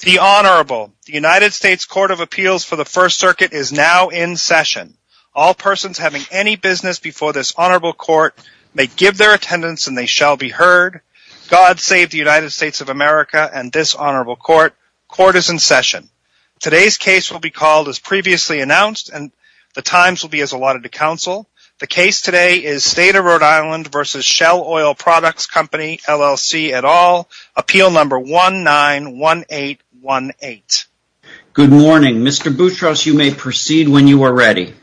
The Honorable, the United States Court of Appeals for the First Circuit is now in session. All persons having any business before this Honorable Court may give their attendance and they shall be heard. God save the United States of America and this Honorable Court. Court is in session. Today's case will be called as previously announced and the times will be as allotted to counsel. The case today is State of Rhode Island v. Shell Oil Products Co., LLC et al. Appeal number 191818. Good morning. Mr. Boutros, you may proceed when you are ready.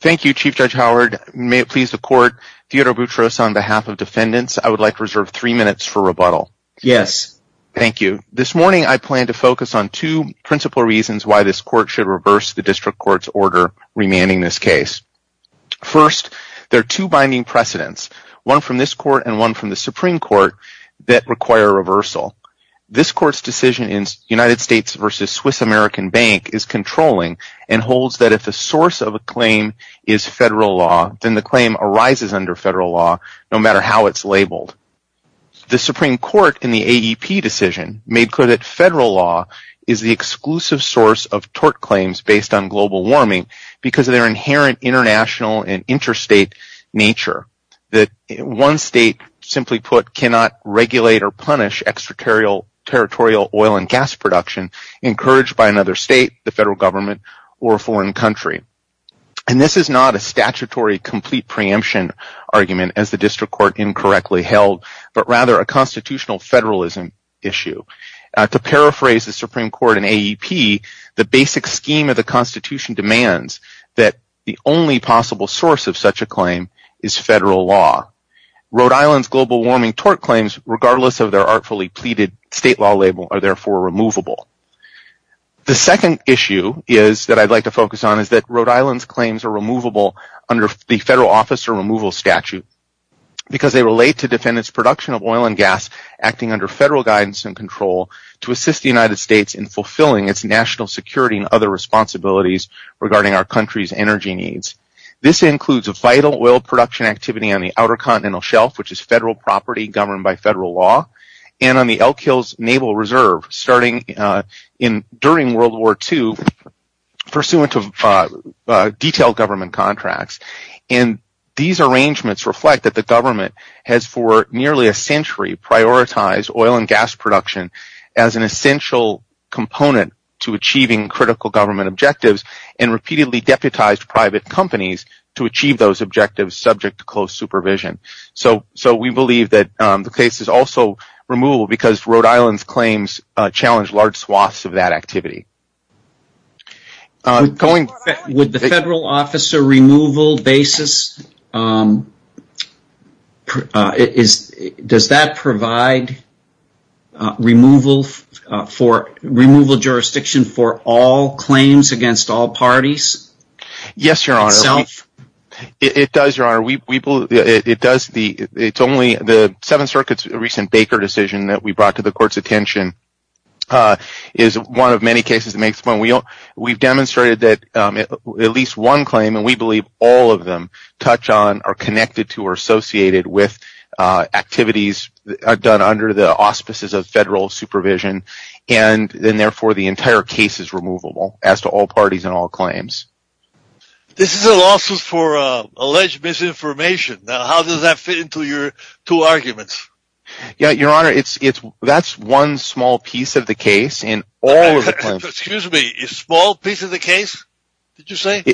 Thank you, Chief Judge Howard. May it please the Court, Theodore Boutros, on behalf of defendants, I would like to reserve three minutes for rebuttal. Yes. Thank you. This morning I plan to focus on two principal reasons why this Court should reverse the District Court's order remanding this case. First, there are two binding precedents, one from this Court and one from the Supreme Court that require reversal. This Court's decision in United States v. Swiss American Bank is controlling and holds that if the source of a claim is federal law, then the claim arises under federal law no matter how it's labeled. The Supreme Court in the AEP decision made clear that federal law is the exclusive source of tort claims based on global warming because of their inherent international and interstate nature. One state, simply put, cannot regulate or punish extraterritorial oil and gas production encouraged by another state, the federal government, or a foreign country. This is not a statutory complete preemption argument as the District Court incorrectly held, but rather a constitutional federalism issue. To paraphrase the Supreme that the only possible source of such a claim is federal law. Rhode Island's global warming tort claims, regardless of their artfully pleaded state law label, are therefore removable. The second issue that I'd like to focus on is that Rhode Island's claims are removable under the federal officer removal statute because they relate to defendants' production of oil and gas acting under federal guidance and control to assist the United States in regarding our country's energy needs. This includes a vital oil production activity on the outer continental shelf, which is federal property governed by federal law, and on the Elk Hills Naval Reserve during World War II pursuant to detailed government contracts. These arrangements reflect that the government has for nearly a century prioritized oil and gas production and repeatedly deputized private companies to achieve those objectives subject to close supervision. So we believe that the case is also removable because Rhode Island's claims challenge large swaths of that activity. Would the federal officer removal basis, does that provide removal jurisdiction for all parties? Yes, Your Honor. It does, Your Honor. It's only the Seventh Circuit's recent Baker decision that we brought to the court's attention is one of many cases that makes the point. We've demonstrated that at least one claim, and we believe all of them, touch on, are connected to or associated with activities done under the auspices of federal supervision, and therefore the entire case is removable as to all parties and all claims. This is a lawsuit for alleged misinformation. Now how does that fit into your two arguments? That's one small piece of the case in all of the claims. Excuse me, small piece of the case, did you say?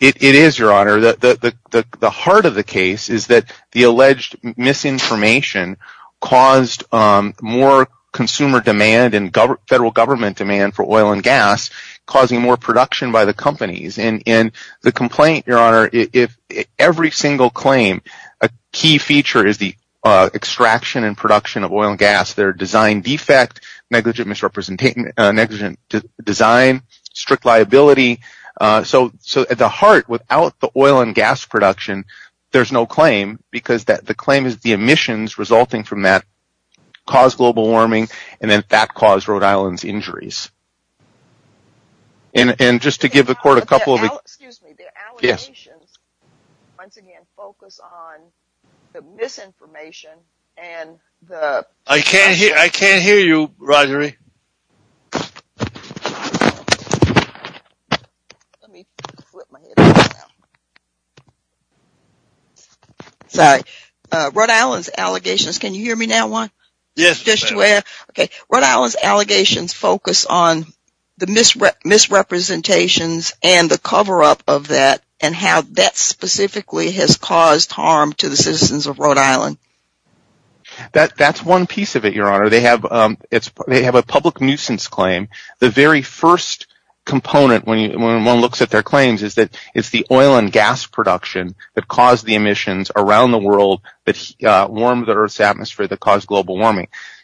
It is, Your Honor. The heart of the case is that the alleged misinformation caused more consumer demand and federal government demand for oil and gas, causing more production by the companies. In the complaint, Your Honor, every single claim, a key feature is the extraction and production of oil and gas, their design defect, negligent design, strict liability. So at the heart, without the oil and gas production, there's no claim because the claim is the firming, and then that caused Rhode Island's injuries. And just to give the court a couple of... Excuse me, the allegations, once again, focus on the misinformation and the... I can't hear you, Rogeri. Sorry, Rhode Island's allegations, can you hear me now, Juan? Yes, ma'am. Rhode Island's allegations focus on the misrepresentations and the cover-up of that, and how that specifically has caused harm to the citizens of Rhode Island. That's one piece of it, Your Honor. They have a public nuisance claim. The very first component when one looks at their claims is that it's the oil and gas production that caused the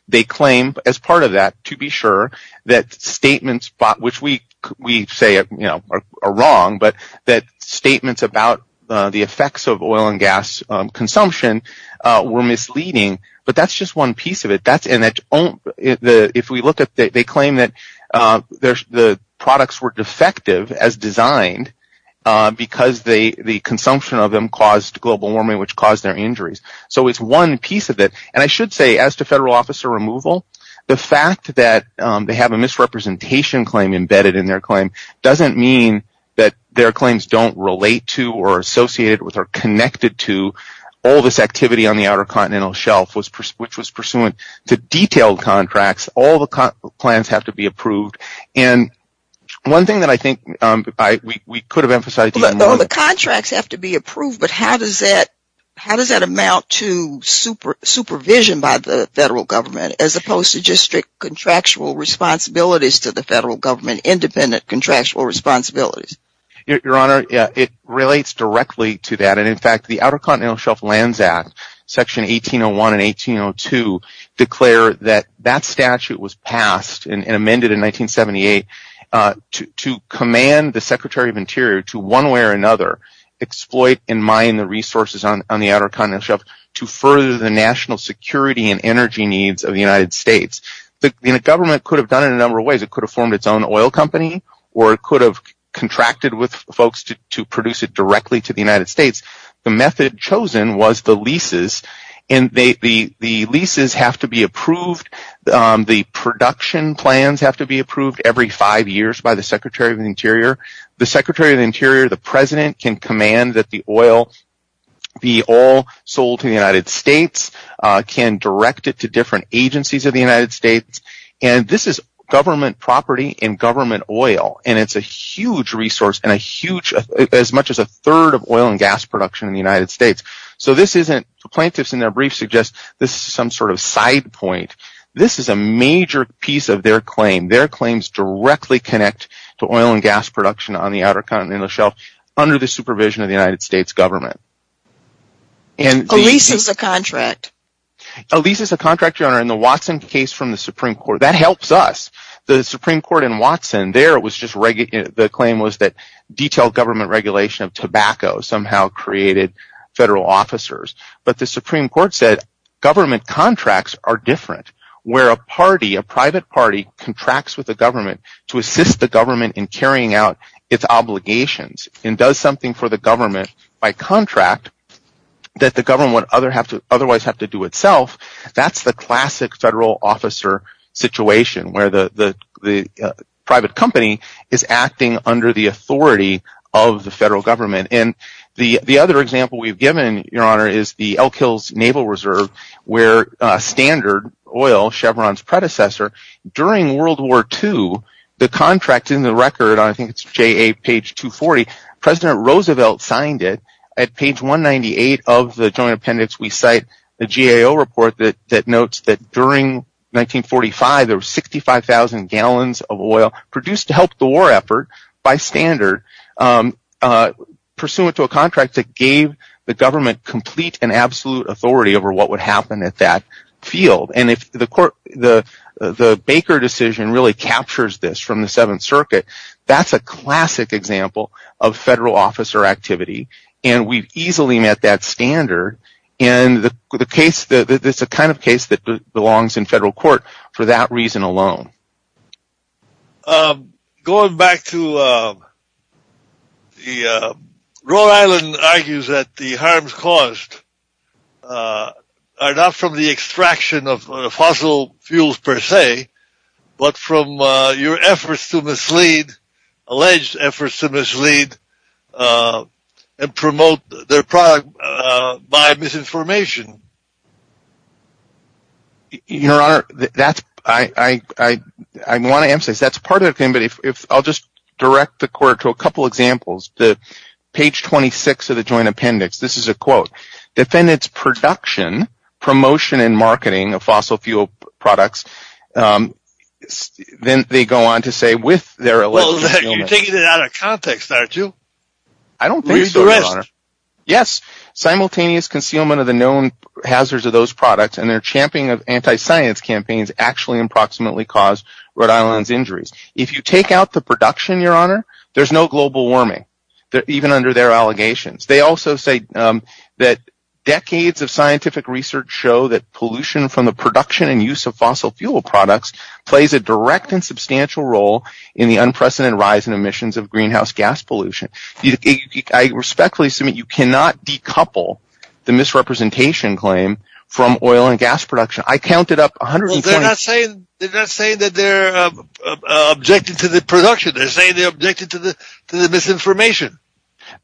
They claim, as part of that, to be sure that statements, which we say are wrong, but that statements about the effects of oil and gas consumption were misleading, but that's just one piece of it. If we look at it, they claim that the products were defective as designed because the consumption of them caused global warming, which caused their injuries. So it's one piece of it, and I should say, as to federal officer removal, the fact that they have a misrepresentation claim embedded in their claim doesn't mean that their claims don't relate to or are associated with or connected to all this activity on the Outer Continental Shelf, which was pursuant to detailed contracts. All the plans have to be approved, and one thing that I think we could have emphasized... Your Honor, it relates directly to that. In fact, the Outer Continental Shelf Lands Act, Section 1801 and 1802 declare that that statute was passed and amended in 1978 to command the Secretary of Interior to, one way or another, exploit and mine the resources on the Outer Continental Shelf. The government could have done it in a number of ways. It could have formed its own oil company or it could have contracted with folks to produce it directly to the United States. The method chosen was the leases, and the leases have to be approved. The production plans have to be approved every five years by the Secretary of the Interior. The Secretary of the Interior, the President, can command that the oil be all sold to the United States and can direct it to different agencies of the United States. This is government property and government oil, and it's a huge resource, as much as a third of oil and gas production in the United States. The plaintiffs in their brief suggest this is some sort of side point. This is a major piece of their claim. Their claims directly connect to oil and gas production on the Outer Continental Shelf under the supervision of the United States government. A lease is a contract, Your Honor, in the Watson case from the Supreme Court. That helps us. The Supreme Court in Watson, the claim was that detailed government regulation of tobacco somehow created federal officers, but the Supreme Court said government contracts are different where a private party contracts with the government to assist the government in carrying out its obligations and does something for the government by contract that the government would otherwise have to do itself. That's the classic federal officer situation where the private company is acting under the authority of the federal government. The other example we've given, Your Honor, is the Elk Hills Naval Reserve where Standard Oil, Chevron's predecessor, during World War II, the contract in the record, I think it's J.A., page 240, President Roosevelt signed it. At page 198 of the joint appendix, we cite the GAO report that notes that during 1945, there were 65,000 gallons of oil produced to help the war effort by Standard pursuant to a contract that gave the government complete and absolute authority over what would happen at that field. The Baker decision really captures this from the Seventh Circuit. That's a classic example of federal officer activity, and we've easily met that standard. It's the kind of case that belongs in federal court for that reason alone. Going back to, Rhode Island argues that the harms caused are not from the extraction of fossil fuels per se, but from your efforts to mislead, alleged efforts to mislead, and promote their product by misinformation. Your Honor, I want to emphasize that's part of the thing, but I'll just direct the court to a couple of examples. Page 26 of the joint appendix, this is a quote. Defendants' production, promotion, and marketing of fossil fuel products, then they go on to say with their alleged concealment. You're taking it out of context, aren't you? Read the rest. Yes, simultaneous concealment of the known hazards of those products and their champing of anti-science campaigns actually approximately caused Rhode Island's injuries. If you take out the production, Your Honor, there's no global warming, even under their allegations. They also say that decades of scientific research show that pollution from the production and use of fossil fuel products plays a direct and substantial role in the unprecedented rise in emissions of greenhouse gas pollution. I respectfully submit that you cannot decouple the misrepresentation claim from oil and gas production. I counted up 120… They're not saying that they're objecting to the production. They're saying they're objecting to the misinformation.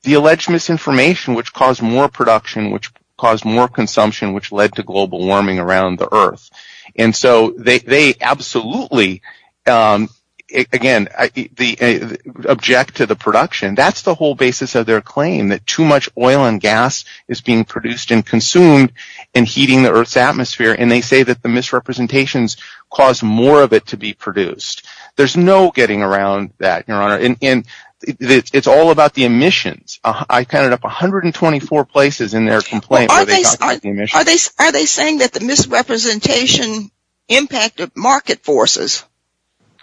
The alleged misinformation, which caused more production, which caused more consumption, which led to global warming around the Earth. They absolutely object to the production. That's the whole basis of their claim that too much oil and gas is being produced and consumed and heating the Earth's atmosphere, and they say that the misrepresentations caused more of it to be produced. There's no getting around that. It's all about the emissions. I counted up 124 places in their complaint where they talked about the emissions. Are they saying that the misrepresentation impacted market forces?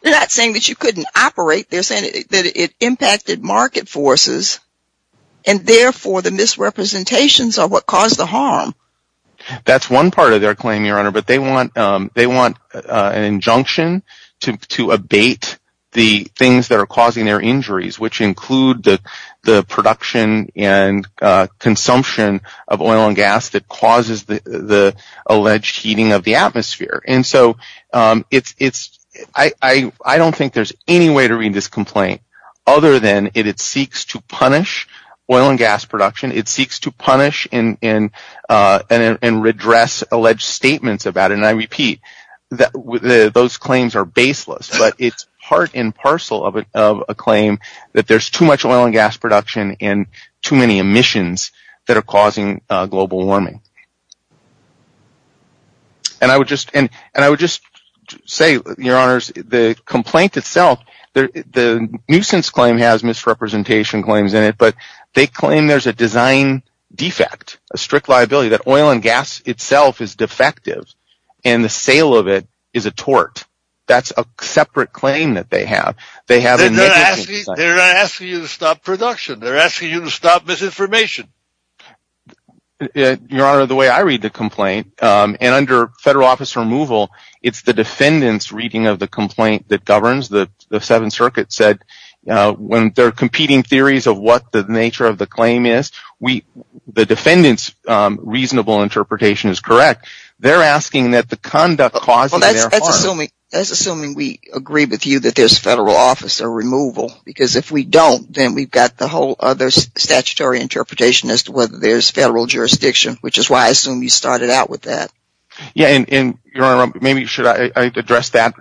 They're not saying that you couldn't operate. They're saying that it impacted market forces, and therefore the misrepresentations are what caused the harm. That's one part of their claim, Your Honor, but they want an injunction to abate the things that are causing their injuries, which include the production and consumption of oil and gas that causes the alleged heating of the atmosphere. I don't think there's any way to read this complaint other than it seeks to punish oil and gas production. It seeks to punish and redress alleged statements about it, and I repeat that those claims are baseless, but it's part and parcel of a claim that there's too much oil and gas production and too many emissions that are causing global warming. I would just say, Your Honors, the nuisance claim has misrepresentation claims in it, but they claim there's a design defect, a strict liability that oil and gas itself is They're not asking you to stop production. They're asking you to stop misinformation. Your Honor, the way I read the complaint, and under federal office removal, it's the defendant's reading of the complaint that governs. The Seventh Circuit said when there are competing theories of what the nature of the claim is, the defendant's reasonable agree with you that there's federal office or removal, because if we don't, then we've got the whole other statutory interpretation as to whether there's federal jurisdiction, which is why I assume you started out with that. Yeah, and Your Honor, maybe should I address that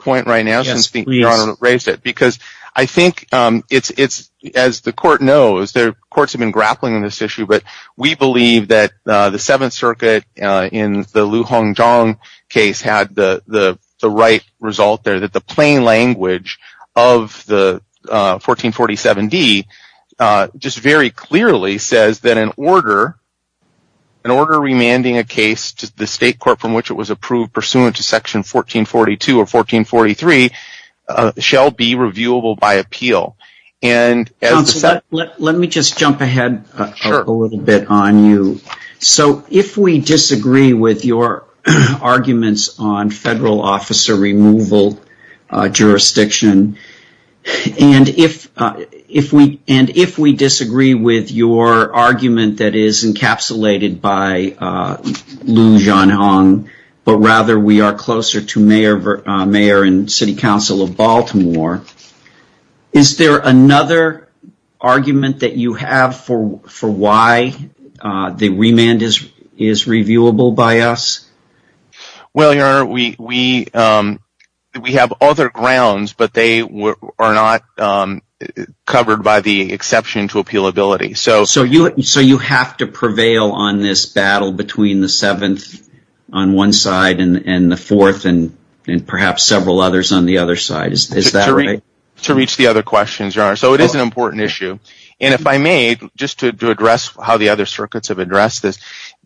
point right now? Yes, please. Because I think it's, as the court knows, courts have been grappling with this issue, but we believe that the Seventh Circuit in the Liu Hongzhong case had the right result there, that the plain language of the 1447D just very clearly says that an order remanding a case to the state court from which it was approved pursuant to section 1442 or 1443 shall be reviewable by appeal. Counsel, let me just jump ahead a little bit on you. If we disagree with your arguments on federal officer removal jurisdiction, and if we disagree with your argument that is encapsulated by Liu Hongzhong, but rather we are closer to the mayor and city council of Baltimore, is there another argument that you have for why the remand is reviewable by us? Well, Your Honor, we have other grounds, but they are not covered by the exception to appealability. So you have to prevail on this battle between the Seventh on one side and the Fourth and perhaps several others on the other side. Is that right? To reach the other questions, Your Honor. So it is an important issue. And if I may, just to address how the other circuits have addressed this,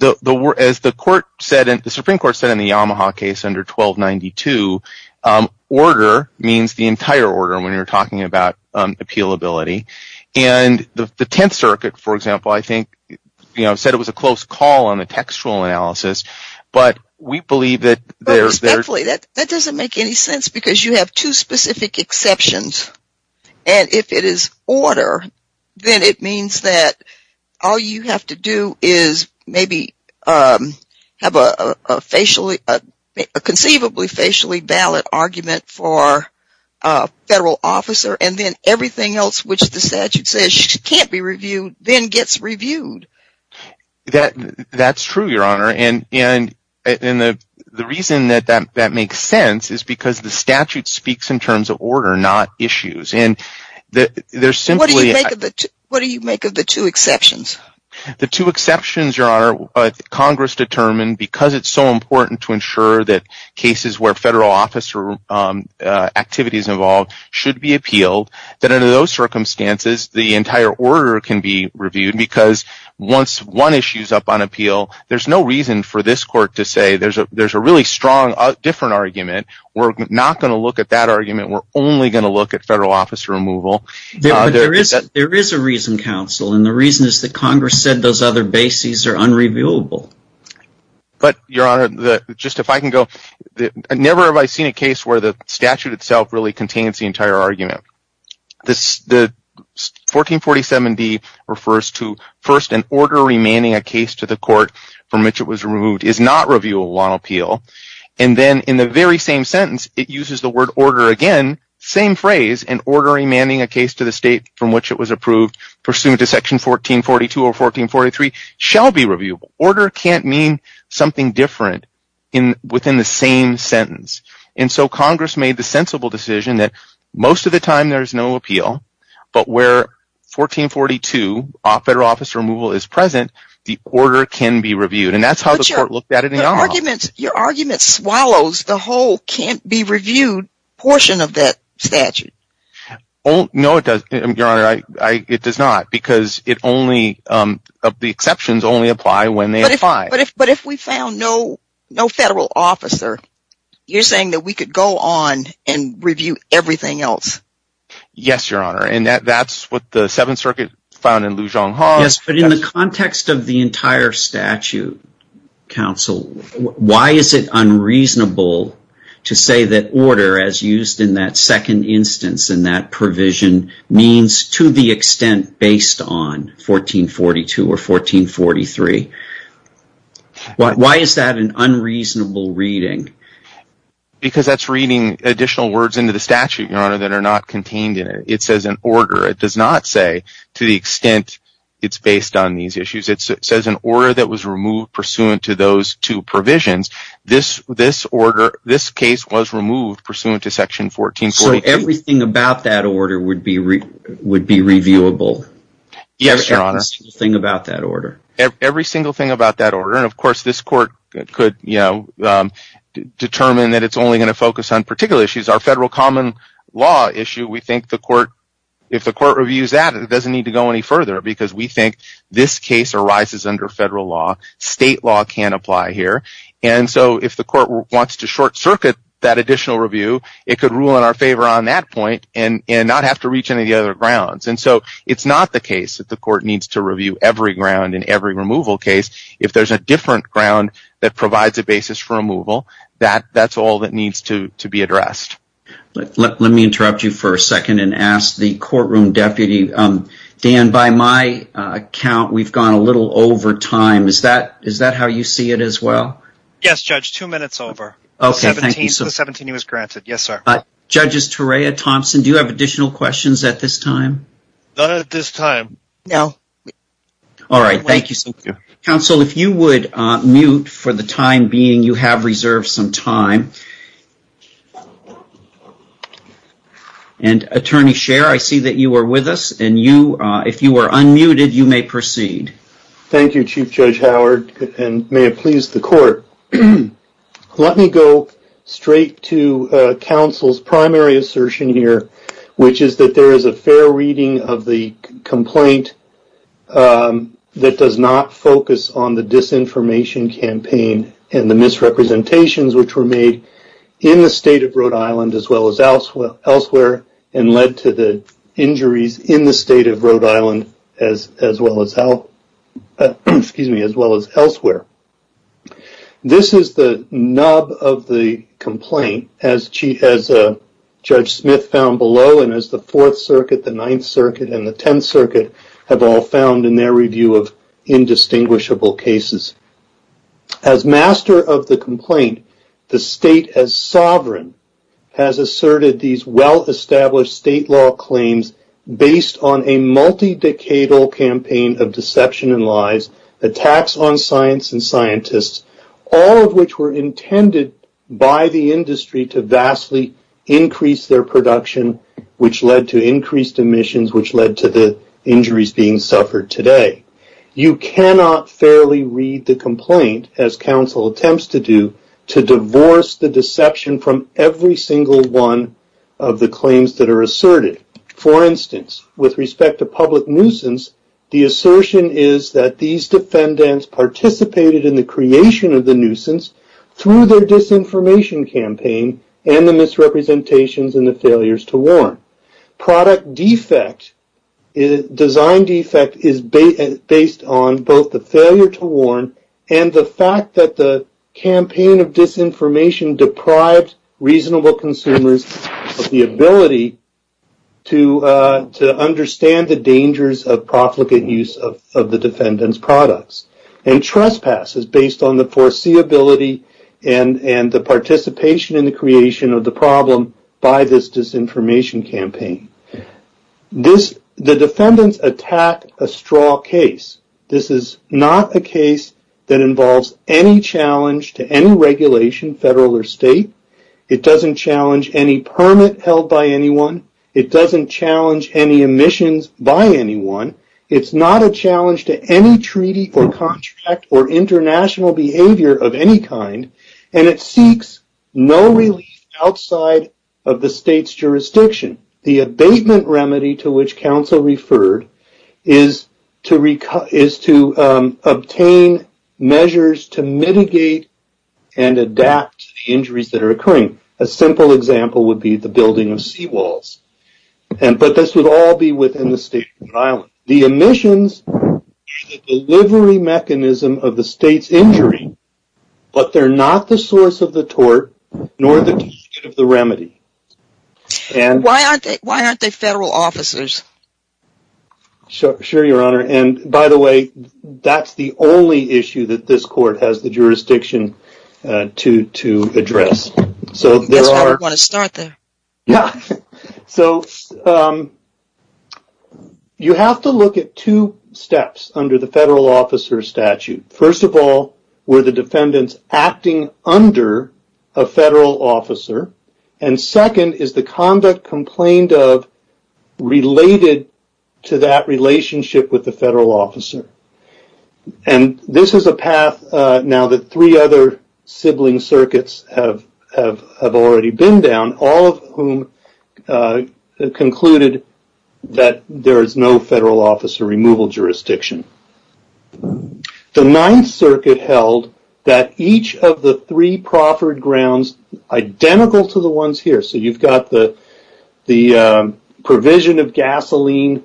as the Supreme Court said in the Yamaha case under 1292, order means the entire order when you're talking about appealability. And the Tenth Circuit, for example, I think, you know, said it was a close call on the textual analysis. But we believe that there's... But respectfully, that doesn't make any sense because you have two specific exceptions. And if it is order, then it means that all you have to do is maybe have a conceivably facially valid argument for a federal officer and then everything else which the statute says can't be reviewed then gets reviewed. That's true, Your Honor. And the reason that that makes sense is because the statute speaks in terms of order, not issues. And there's simply... What do you make of the two exceptions? The two exceptions, Your Honor, Congress determined because it's so important to ensure that cases where federal officer activities are involved should be appealed, that under those circumstances the entire order can be reviewed because once one issue is up on appeal, there's no reason for this court to say there's a really strong different argument. We're not going to look at that argument. We're only going to look at federal officer removal. There is a reason, counsel, and the reason is that Congress said those other bases are unreviewable. But, Your Honor, just if I can go... I never have I seen a case where the statute itself really contains the entire argument. The 1447d refers to first an order remanding a case to the court from which it was removed is not reviewable on appeal. And then in the very same sentence it uses the word order again, same phrase, an order remanding a case to the state from which it was approved pursuant to section 1442 or 1443 shall be reviewable. So order can't mean something different within the same sentence. And so Congress made the sensible decision that most of the time there's no appeal, but where 1442, federal officer removal is present, the order can be reviewed. And that's how the court looked at it in the off. But your argument swallows the whole can't be reviewed portion of that statute. Oh, no, it does. Your Honor, it does not because it only of the exceptions only apply when they apply. But if we found no federal officer, you're saying that we could go on and review everything else? Yes, Your Honor. And that's what the Seventh Circuit found in Lujan Hall. Yes, but in the context of the entire statute, counsel, why is it unreasonable to say that that provision means to the extent based on 1442 or 1443? Why is that an unreasonable reading? Because that's reading additional words into the statute, Your Honor, that are not contained in it. It says an order. It does not say to the extent it's based on these issues. It says an order that was removed pursuant to those two provisions. This order, this case was removed pursuant to section 1443. So everything about that order would be reviewable? Yes, Your Honor. Everything about that order? Every single thing about that order. And, of course, this court could determine that it's only going to focus on particular issues. Our federal common law issue, we think if the court reviews that, it doesn't need to go any further because we think this case arises under federal law. State law can't apply here. And so if the court wants to short-circuit that additional review, it could rule in our favor on that point and not have to reach any of the other grounds. And so it's not the case that the court needs to review every ground in every removal case. If there's a different ground that provides a basis for removal, that's all that needs to be addressed. Let me interrupt you for a second and ask the courtroom deputy. Dan, by my count, we've gone a little over time. Is that how you see it as well? Yes, Judge. Two minutes over. The 17 was granted. Yes, sir. Judges Torea, Thompson, do you have additional questions at this time? None at this time. No. All right. Thank you. Counsel, if you would mute for the time being. You have reserved some time. And, Attorney Scher, I see that you are with us. And if you are unmuted, you may proceed. Thank you, Chief Judge Howard, and may it please the court. Let me go straight to counsel's primary assertion here, which is that there is a fair reading of the complaint that does not focus on the disinformation campaign and the misrepresentations which were made in the state of Rhode Island as well as elsewhere and led to the injuries in the state of Rhode Island as well as elsewhere. This is the nub of the complaint, as Judge Smith found below and as the Fourth Circuit, the Ninth Circuit, and the Tenth Circuit have all found in their review of indistinguishable cases. As master of the complaint, the state as sovereign has asserted these well-established state law claims based on a multi-decadal campaign of deception and lies, attacks on science and scientists, all of which were intended by the industry to vastly increase their production, which led to increased emissions, which led to the injuries being suffered today. You cannot fairly read the complaint, as counsel attempts to do, to divorce the deception from every single one of the claims that are asserted. For instance, with respect to public nuisance, the assertion is that these defendants participated in the creation of the nuisance through their disinformation campaign and the misrepresentations and the failures to warn. Product defect, design defect, is based on both the failure to warn and the fact that the campaign of disinformation deprived reasonable consumers of the ability to understand the dangers of profligate use of the defendants' products. And trespass is based on the foreseeability and the participation in the creation of the problem by this disinformation campaign. The defendants attack a straw case. This is not a case that involves any challenge to any regulation, federal or state. It doesn't challenge any permit held by anyone. It doesn't challenge any emissions by anyone. It's not a challenge to any treaty or contract or international behavior of any kind, and it seeks no relief outside of the state's jurisdiction. The abatement remedy to which counsel referred is to obtain measures to mitigate and adapt to the injuries that are occurring. A simple example would be the building of seawalls. But this would all be within the state of Rhode Island. The emissions are the delivery mechanism of the state's injury, but they're not the source of the tort nor the key to the remedy. Why aren't they federal officers? Sure, Your Honor. And by the way, that's the only issue that this court has the jurisdiction to address. That's why we want to start there. So you have to look at two steps under the federal officer statute. First of all, were the defendants acting under a federal officer? And second, is the conduct complained of related to that relationship with the federal officer? And this is a path now that three other sibling circuits have already been down, all of whom concluded that there is no federal officer removal jurisdiction. The Ninth Circuit held that each of the three proffered grounds identical to the ones here. So you've got the provision of gasoline.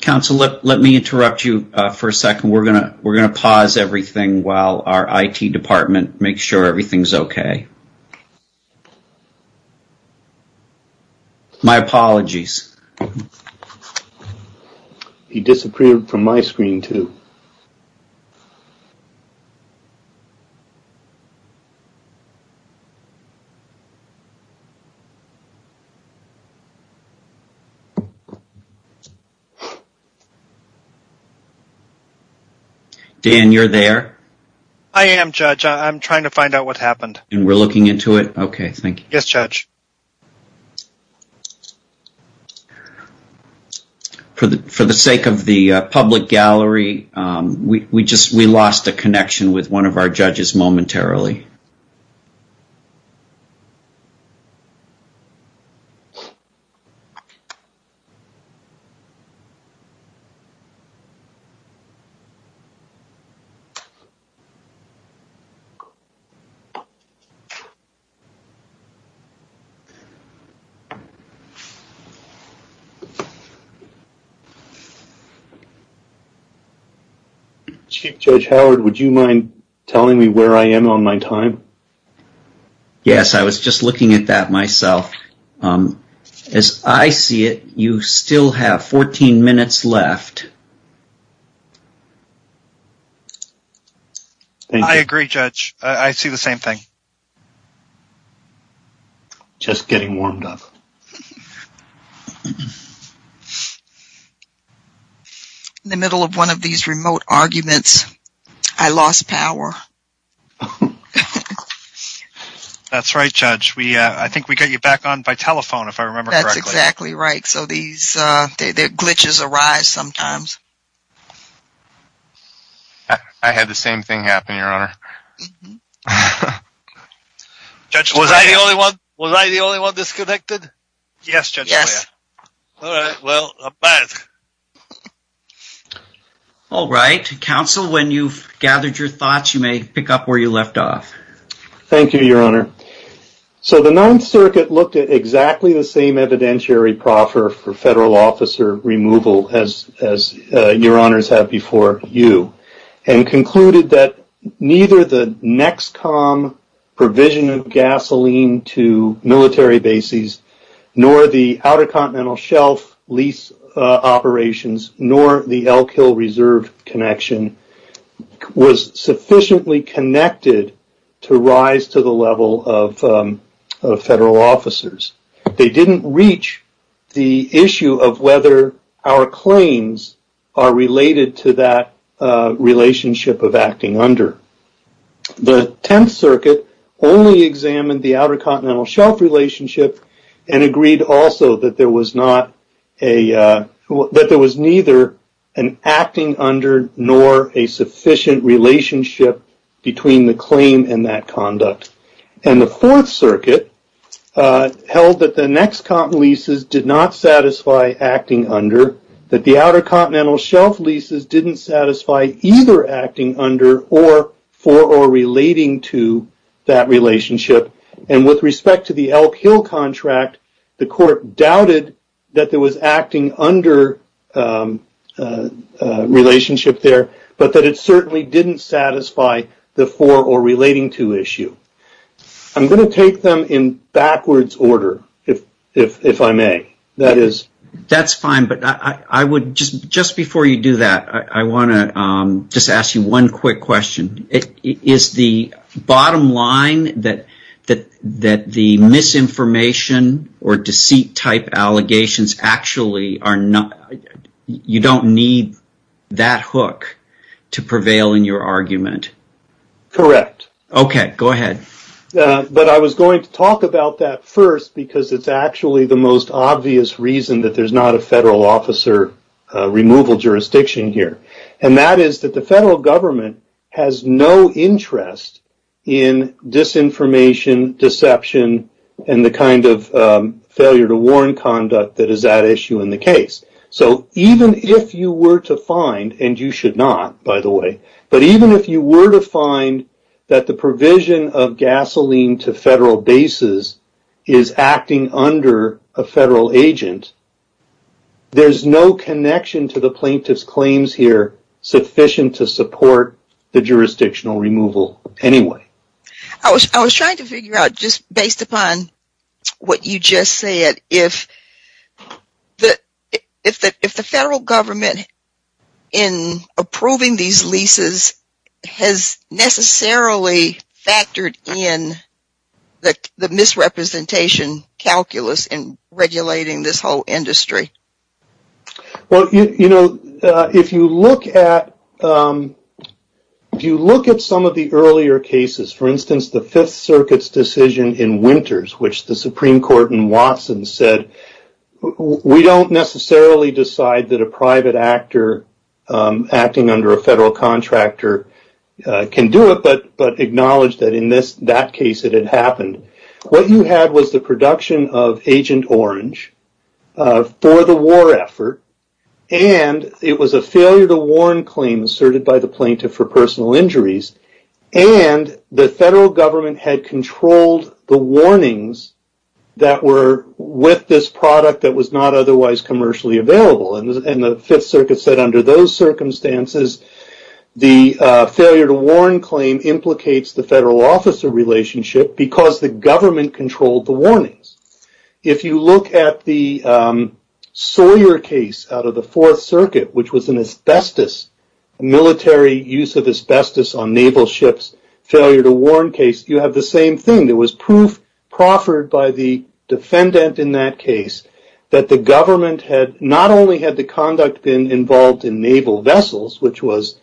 Counsel, let me interrupt you for a second. We're going to pause everything while our IT department makes sure everything's okay. My apologies. He disappeared from my screen, too. Dan, you're there? I am, Judge. I'm trying to find out what happened. And we're looking into it? Okay, thank you. Yes, Judge. For the sake of the public gallery, we lost a connection with one of our judges momentarily. Chief Judge Howard, would you mind telling me where I am on my time? Yes, I was just looking at that myself. As I see it, you still have 14 minutes left. I agree, Judge. I see the same thing. Just getting warmed up. In the middle of one of these remote arguments, I lost power. That's right, Judge. I think we got you back on by telephone, if I remember correctly. That's exactly right. Glitches arise sometimes. I had the same thing happen, Your Honor. Was I the only one disconnected? Yes, Judge. All right, well, I'm back. All right. Counsel, when you've gathered your thoughts, you may pick up where you left off. Thank you, Your Honor. The Ninth Circuit looked at exactly the same evidentiary proffer for federal officer removal as Your Honors have before you and concluded that neither the NEXCOM provision of gasoline to military bases, nor the Outer Continental Shelf lease operations, nor the Elk Hill Reserve connection was sufficiently connected to rise to the level of federal officers. They didn't reach the issue of whether our claims are related to that relationship of acting under. The Tenth Circuit only examined the Outer Continental Shelf relationship and agreed also that there was neither an acting under nor a sufficient relationship between the claim and that conduct. And the Fourth Circuit held that the NEXCOM leases did not satisfy acting under, that the Outer Continental Shelf leases didn't satisfy either acting under or for or relating to that relationship. And with respect to the Elk Hill contract, the court doubted that there was acting under relationship there, but that it certainly didn't satisfy the for or relating to issue. I'm going to take them in backwards order, if I may. That is... That's fine, but just before you do that, I want to just ask you one quick question. Is the bottom line that the misinformation or deceit type allegations actually are not... You don't need that hook to prevail in your argument? Correct. Okay, go ahead. But I was going to talk about that first because it's actually the most obvious reason that there's not a federal officer removal jurisdiction here. And that is that the federal government has no interest in disinformation, deception, and the kind of failure to warn conduct that is at issue in the case. So even if you were to find, and you should not, by the way, but even if you were to find that the provision of gasoline to federal bases is acting under a federal agent, there's no connection to the plaintiff's claims here sufficient to support the jurisdictional removal anyway. I was trying to figure out, just based upon what you just said, if the federal government in approving these leases has necessarily factored in the misrepresentation calculus in regulating this whole industry. Well, you know, if you look at some of the earlier cases, for instance, the Fifth Circuit's decision in Winters, which the Supreme Court in Watson said, we don't necessarily decide that a private actor acting under a federal contractor can do it, but acknowledge that in that case it had happened. What you had was the production of Agent Orange for the war effort, and it was a failure to warn claim asserted by the plaintiff for personal injuries, and the federal government had controlled the warnings that were with this product that was not otherwise commercially available. And the Fifth Circuit said under those circumstances, the failure to warn claim implicates the federal officer relationship because the government controlled the warnings. If you look at the Sawyer case out of the Fourth Circuit, which was an asbestos, military use of asbestos on naval ships, failure to warn case, you have the same thing. There was proof proffered by the defendant in that case that the government had not only had the conduct been involved in naval vessels, which was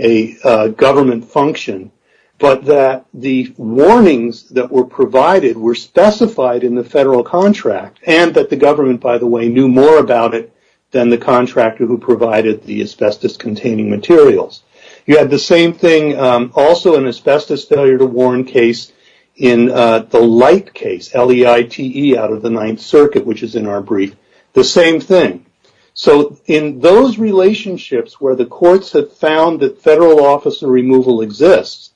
a government function, but that the warnings that were provided were specified in the federal contract, and that the government, by the way, knew more about it than the contractor who provided the asbestos-containing materials. You had the same thing also in asbestos failure to warn case in the Light case, L-E-I-T-E out of the Ninth Circuit, which is in our brief, the same thing. So in those relationships where the courts have found that federal officer removal exists,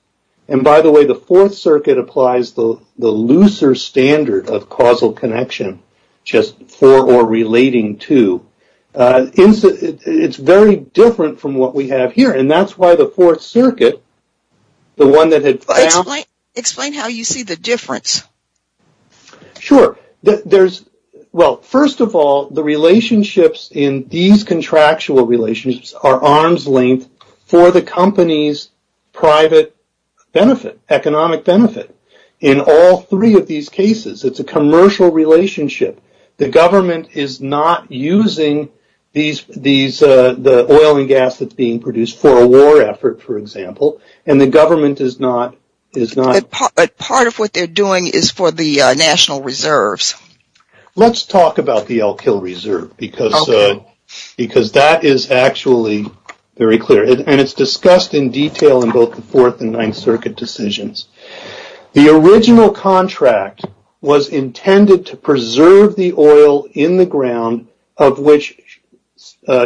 and by the way, the Fourth Circuit applies the looser standard of causal connection, just for or relating to, it's very different from what we have here. And that's why the Fourth Circuit, the one that had found... Explain how you see the difference. Sure. Well, first of all, the relationships in these contractual relationships are arm's length for the company's private benefit, economic benefit. In all three of these cases, it's a commercial relationship. The government is not using the oil and gas that's being produced for a war effort, for example, and the government is not... Part of what they're doing is for the national reserves. Let's talk about the Elk Hill Reserve because that is actually very clear, and it's discussed in detail in both the Fourth and Ninth Circuit decisions. The original contract was intended to preserve the oil in the ground of which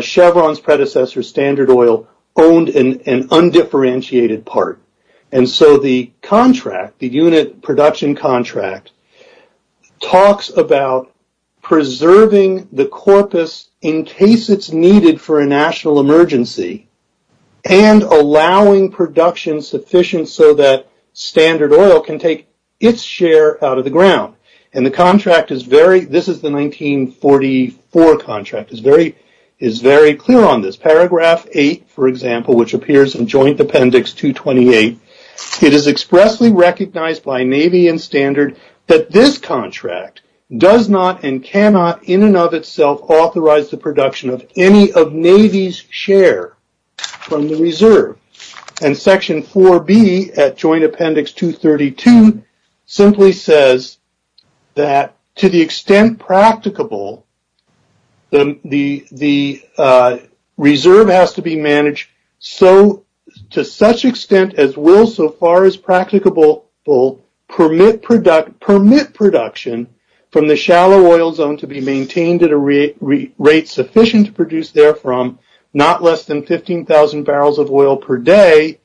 Chevron's predecessor, Standard Oil, owned an undifferentiated part. And so the contract, the unit production contract, talks about preserving the corpus in case it's needed for a national emergency and allowing production sufficient so that Standard Oil can take its share out of the ground. And the contract is very... This is the 1944 contract. It's very clear on this. In paragraph 8, for example, which appears in Joint Appendix 228, it is expressly recognized by Navy and Standard that this contract does not and cannot in and of itself authorize the production of any of Navy's share from the reserve. And Section 4B at Joint Appendix 232 simply says that to the extent practicable, the reserve has to be managed to such extent as will so far as practicable permit production from the shallow oil zone to be maintained at a rate sufficient to produce therefrom, not less than 15,000 barrels of oil per day,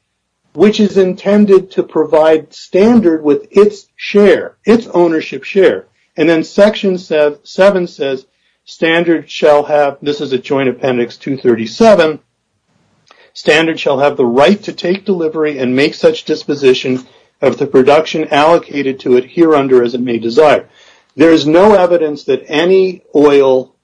which is intended to provide Standard with its share, its ownership share. And then Section 7 says, Standard shall have... This is at Joint Appendix 237. Standard shall have the right to take delivery and make such disposition of the production allocated to it, here under as it may desire. There is no evidence that any oil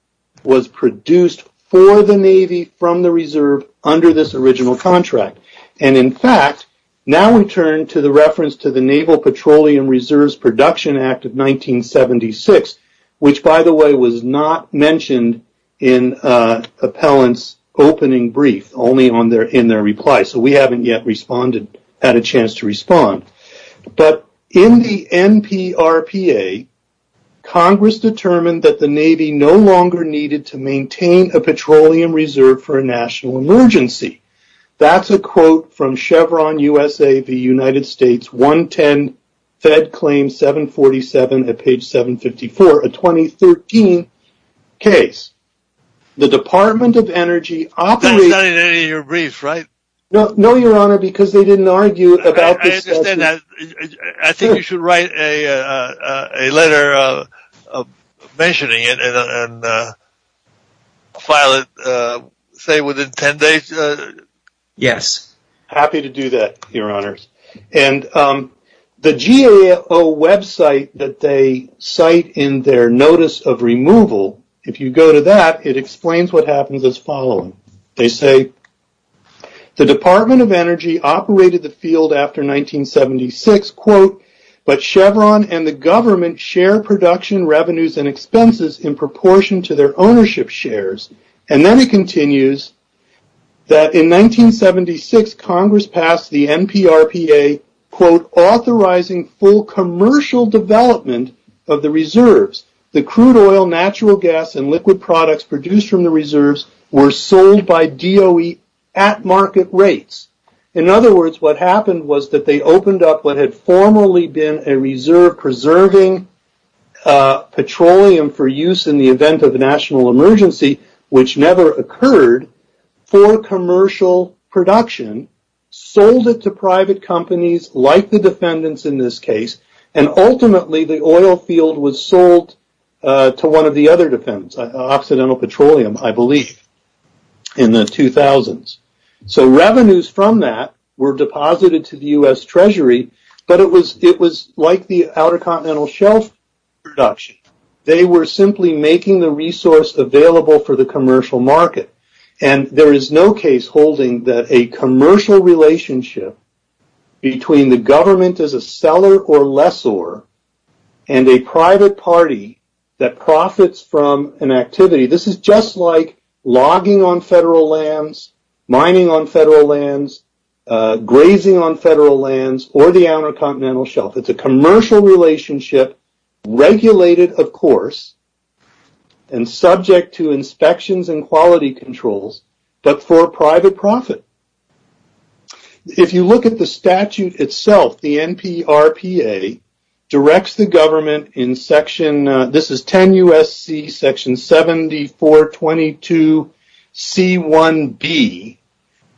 was produced for the Navy from the reserve under this original contract. And, in fact, now we turn to the reference to the Naval Petroleum Reserves Production Act of 1976, which, by the way, was not mentioned in Appellant's opening brief, only in their reply. So we haven't yet had a chance to respond. But in the NPRPA, Congress determined that the Navy no longer needed to maintain a petroleum reserve for a national emergency. That's a quote from Chevron USA v. United States 110 Fed Claim 747 at page 754, a 2013 case. The Department of Energy operates... That was not in any of your briefs, right? No, Your Honor, because they didn't argue about this... I understand that. I think you should write a letter mentioning it and file it, say, within 10 days. Yes. Happy to do that, Your Honors. And the GAO website that they cite in their notice of removal, if you go to that, it explains what happens as following. They say, the Department of Energy operated the field after 1976, quote, but Chevron and the government share production revenues and expenses in proportion to their ownership shares. And then it continues that in 1976, Congress passed the NPRPA, quote, authorizing full commercial development of the reserves. The crude oil, natural gas and liquid products produced from the reserves were sold by DOE at market rates. In other words, what happened was that they opened up what had formerly been a reserve preserving petroleum for use in the event of a national emergency, which never occurred for commercial production, sold it to private companies like the defendants in this case. And ultimately, the oil field was sold to one of the other defendants, Occidental Petroleum, I believe, in the 2000s. So revenues from that were deposited to the U.S. Treasury, but it was like the Outer Continental Shelf production. They were simply making the resource available for the commercial market. And there is no case holding that a commercial relationship between the government as a seller or lessor and a private party that profits from an activity, this is just like logging on federal lands, mining on federal lands, grazing on federal lands or the Outer Continental Shelf. It's a commercial relationship regulated, of course, and subject to inspections and quality controls, but for private profit. If you look at the statute itself, the NPRPA directs the government in Section – this is 10 U.S.C. Section 7422C1B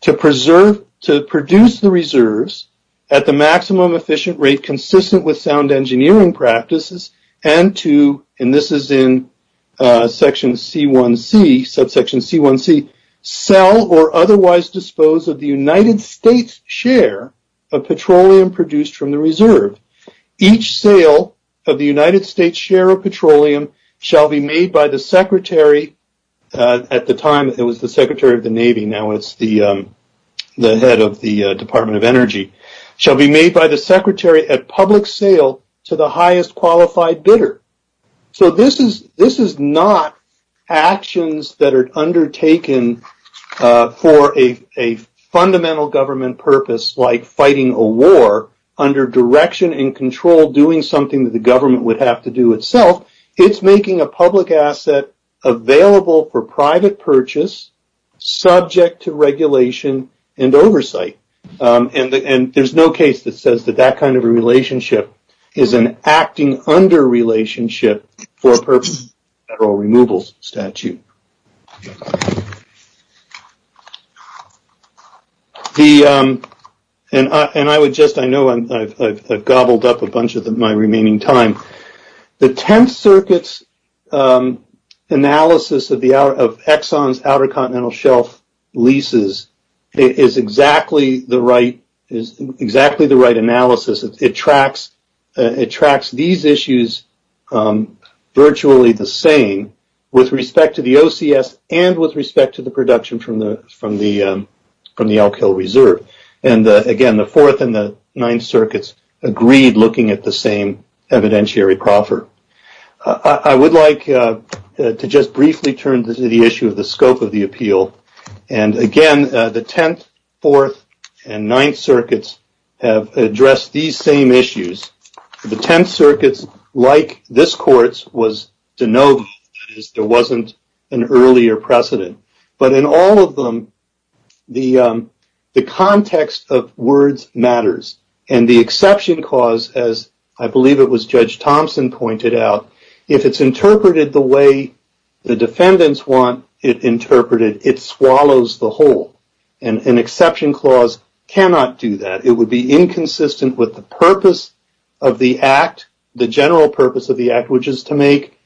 to preserve – to produce the reserves at the maximum efficient rate consistent with sound engineering practices and to – and this is in Section C1C – subsection C1C – sell or otherwise dispose of the United States share of petroleum produced from the reserve. Each sale of the United States share of petroleum shall be made by the Secretary – at the time it was the Secretary of the Navy, now it's the head of the Department of Energy – shall be made by the Secretary at public sale to the highest qualified bidder. So this is not actions that are undertaken for a fundamental government purpose like fighting a war under direction and control, doing something that the government would have to do itself. It's making a public asset available for private purchase, subject to regulation and oversight. And there's no case that says that that kind of a relationship is an acting under relationship for a purpose of federal removals statute. And I would just – I know I've gobbled up a bunch of my remaining time. The Tenth Circuit's analysis of the – of Exxon's Outer Continental Shelf leases is exactly the right – is exactly the right analysis. It tracks – it tracks these issues virtually the same with respect to the OCS and with respect to the production from the – from the – from the Alkyl Reserve. And, again, the Fourth and the Ninth Circuits agreed looking at the same evidentiary proffer. I would like to just briefly turn to the issue of the scope of the appeal. And, again, the Tenth, Fourth, and Ninth Circuits have addressed these same issues. The Tenth Circuits, like this Court's, was to know that there wasn't an earlier precedent. But in all of them, the context of words matters. And the exception clause, as I believe it was Judge Thompson pointed out, if it's interpreted the way the defendants want it interpreted, it swallows the whole. And an exception clause cannot do that. It would be inconsistent with the purpose of the act, the general purpose of the act, which is to make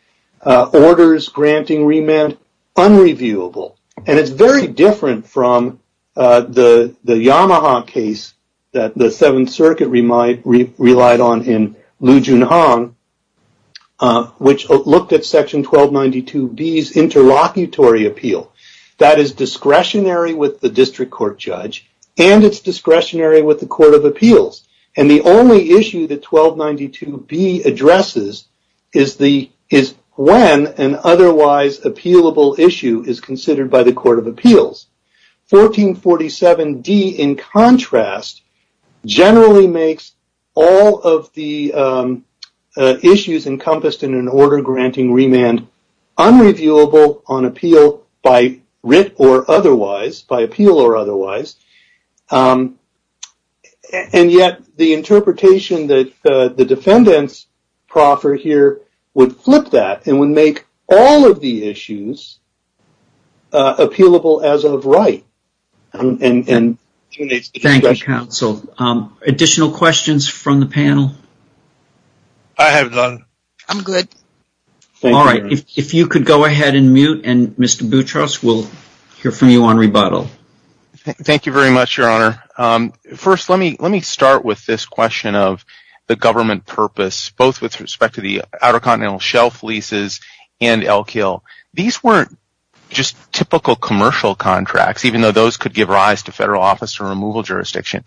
orders granting remand unreviewable. And it's very different from the Yamaha case that the Seventh Circuit relied on in Liu Junhong, which looked at Section 1292B's interlocutory appeal. That is discretionary with the district court judge, and it's discretionary with the Court of Appeals. And the only issue that 1292B addresses is when an otherwise appealable issue is considered by the Court of Appeals. 1447D, in contrast, generally makes all of the issues encompassed in an order granting remand unreviewable on appeal by writ or otherwise, by appeal or otherwise. And yet the interpretation that the defendants proffer here would flip that and would make all of the issues appealable as of right. Thank you, counsel. Additional questions from the panel? I have none. I'm good. All right. If you could go ahead and mute, and Mr. Boutros will hear from you on rebuttal. Thank you very much, Your Honor. First, let me start with this question of the government purpose, both with respect to the Outer Continental Shelf leases and Elk Hill. These weren't just typical commercial contracts, even though those could give rise to federal office or removal jurisdiction.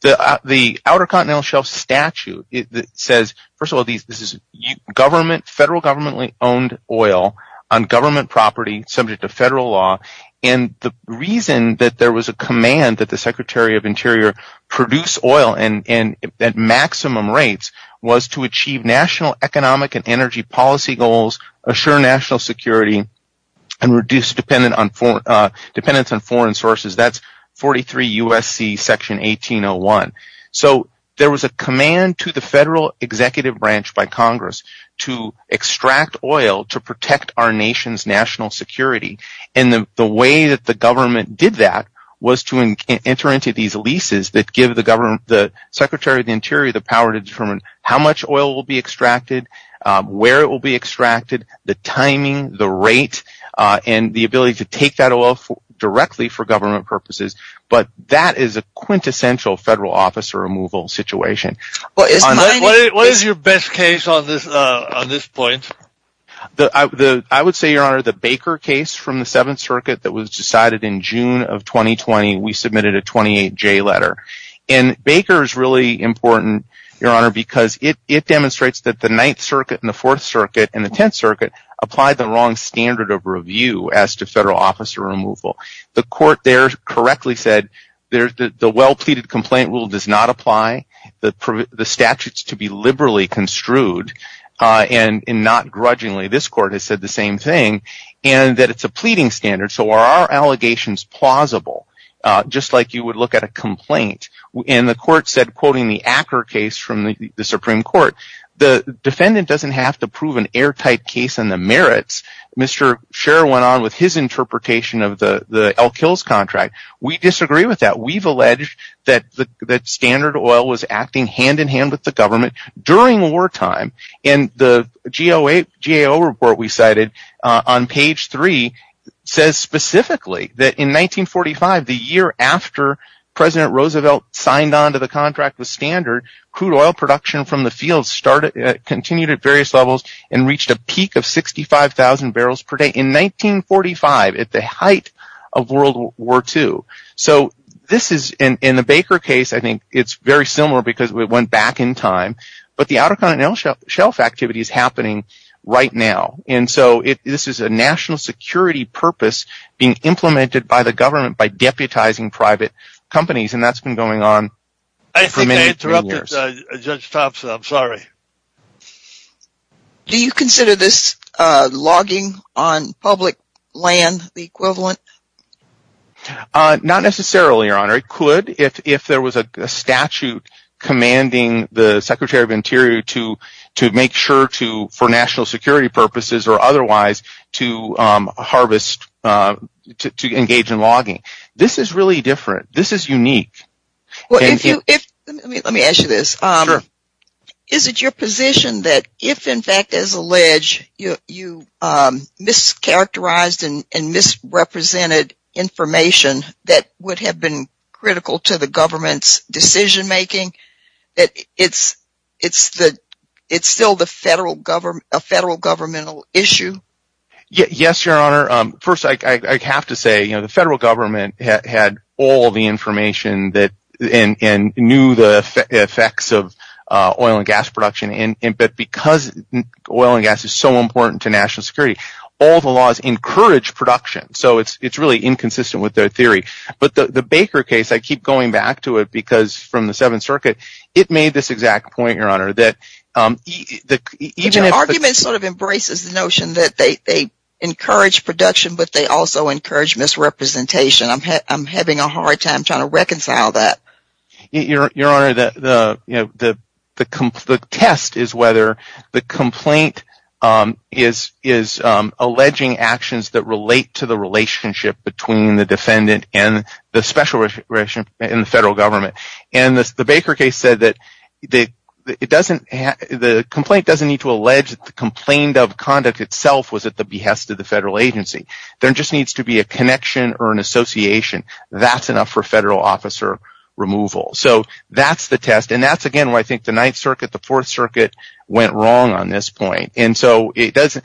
The Outer Continental Shelf statute says, first of all, this is federal government-owned oil on government property subject to federal law. The reason that there was a command that the Secretary of Interior produce oil at maximum rates was to achieve national economic and energy policy goals, assure national security, and reduce dependence on foreign sources. That's 43 U.S.C. Section 1801. There was a command to the federal executive branch by Congress to extract oil to protect our nation's national security. The way that the government did that was to enter into these leases that give the Secretary of the Interior the power to determine how much oil will be extracted, where it will be extracted, the timing, the rate, and the ability to take that oil directly for government purposes. But that is a quintessential federal office or removal situation. What is your best case on this point? I would say, Your Honor, the Baker case from the Seventh Circuit that was decided in June of 2020. We submitted a 28-J letter. Baker is really important, Your Honor, because it demonstrates that the Ninth Circuit and the Fourth Circuit and the Tenth Circuit applied the wrong standard of review as to federal office or removal. The court there correctly said that the well-pleaded complaint rule does not apply, the statute is to be liberally construed, and not grudgingly. This court has said the same thing and that it's a pleading standard, so are our allegations plausible, just like you would look at a complaint? The court said, quoting the Acker case from the Supreme Court, the defendant doesn't have to prove an airtight case on the merits. Mr. Sher went on with his interpretation of the Elk Hills contract. We disagree with that. We've alleged that Standard Oil was acting hand-in-hand with the government during wartime. The GAO report we cited on page 3 says specifically that in 1945, the year after President Roosevelt signed on to the contract with Standard, crude oil production from the field continued at various levels and reached a peak of 65,000 barrels per day in 1945 at the height of World War II. In the Baker case, I think it's very similar because we went back in time, but the Outer Continental Shelf activity is happening right now. This is a national security purpose being implemented by the government by deputizing private companies, and that's been going on for many years. I think I interrupted Judge Thompson, I'm sorry. Do you consider this logging on public land the equivalent? Not necessarily, Your Honor. It could if there was a statute commanding the Secretary of the Interior to make sure for national security purposes or otherwise to engage in logging. This is really different. This is unique. Let me ask you this. Sure. Is it your position that if, in fact, as alleged, you mischaracterized and misrepresented information that would have been critical to the government's decision making, it's still a federal governmental issue? Yes, Your Honor. First, I have to say the federal government had all the information and knew the effects of oil and gas production, but because oil and gas is so important to national security, all the laws encourage production, so it's really inconsistent with their theory. But the Baker case, I keep going back to it because from the Seventh Circuit, it made this exact point, Your Honor. But your argument sort of embraces the notion that they encourage production, but they also encourage misrepresentation. I'm having a hard time trying to reconcile that. Your Honor, the test is whether the complaint is alleging actions that relate to the relationship between the defendant and the special relationship in the federal government. And the Baker case said that the complaint doesn't need to allege that the complaint of conduct itself was at the behest of the federal agency. There just needs to be a connection or an association. That's enough for federal officer removal. So that's the test, and that's, again, why I think the Ninth Circuit, the Fourth Circuit went wrong on this point. The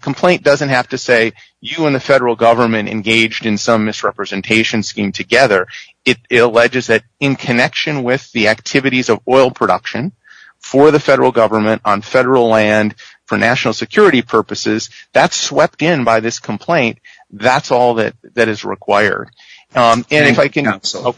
complaint doesn't have to say you and the federal government engaged in some misrepresentation scheme together. It alleges that in connection with the activities of oil production for the federal government on federal land for national security purposes, that's swept in by this complaint. That's all that is required. Thank you, Your Honor.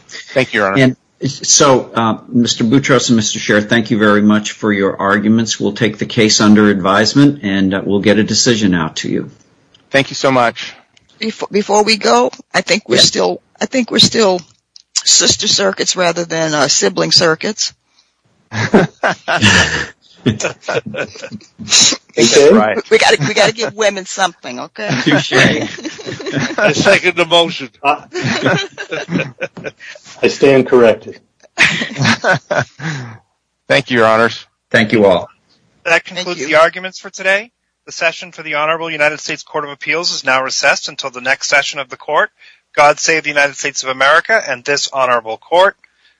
So, Mr. Boutros and Mr. Scherr, thank you very much for your arguments. We'll take the case under advisement, and we'll get a decision out to you. Thank you so much. Before we go, I think we're still sister circuits rather than sibling circuits. We've got to give women something, okay? I second the motion. I stand corrected. Thank you, Your Honors. Thank you all. That concludes the arguments for today. The session for the Honorable United States Court of Appeals is now recessed until the next session of the Court. God save the United States of America and this honorable Court.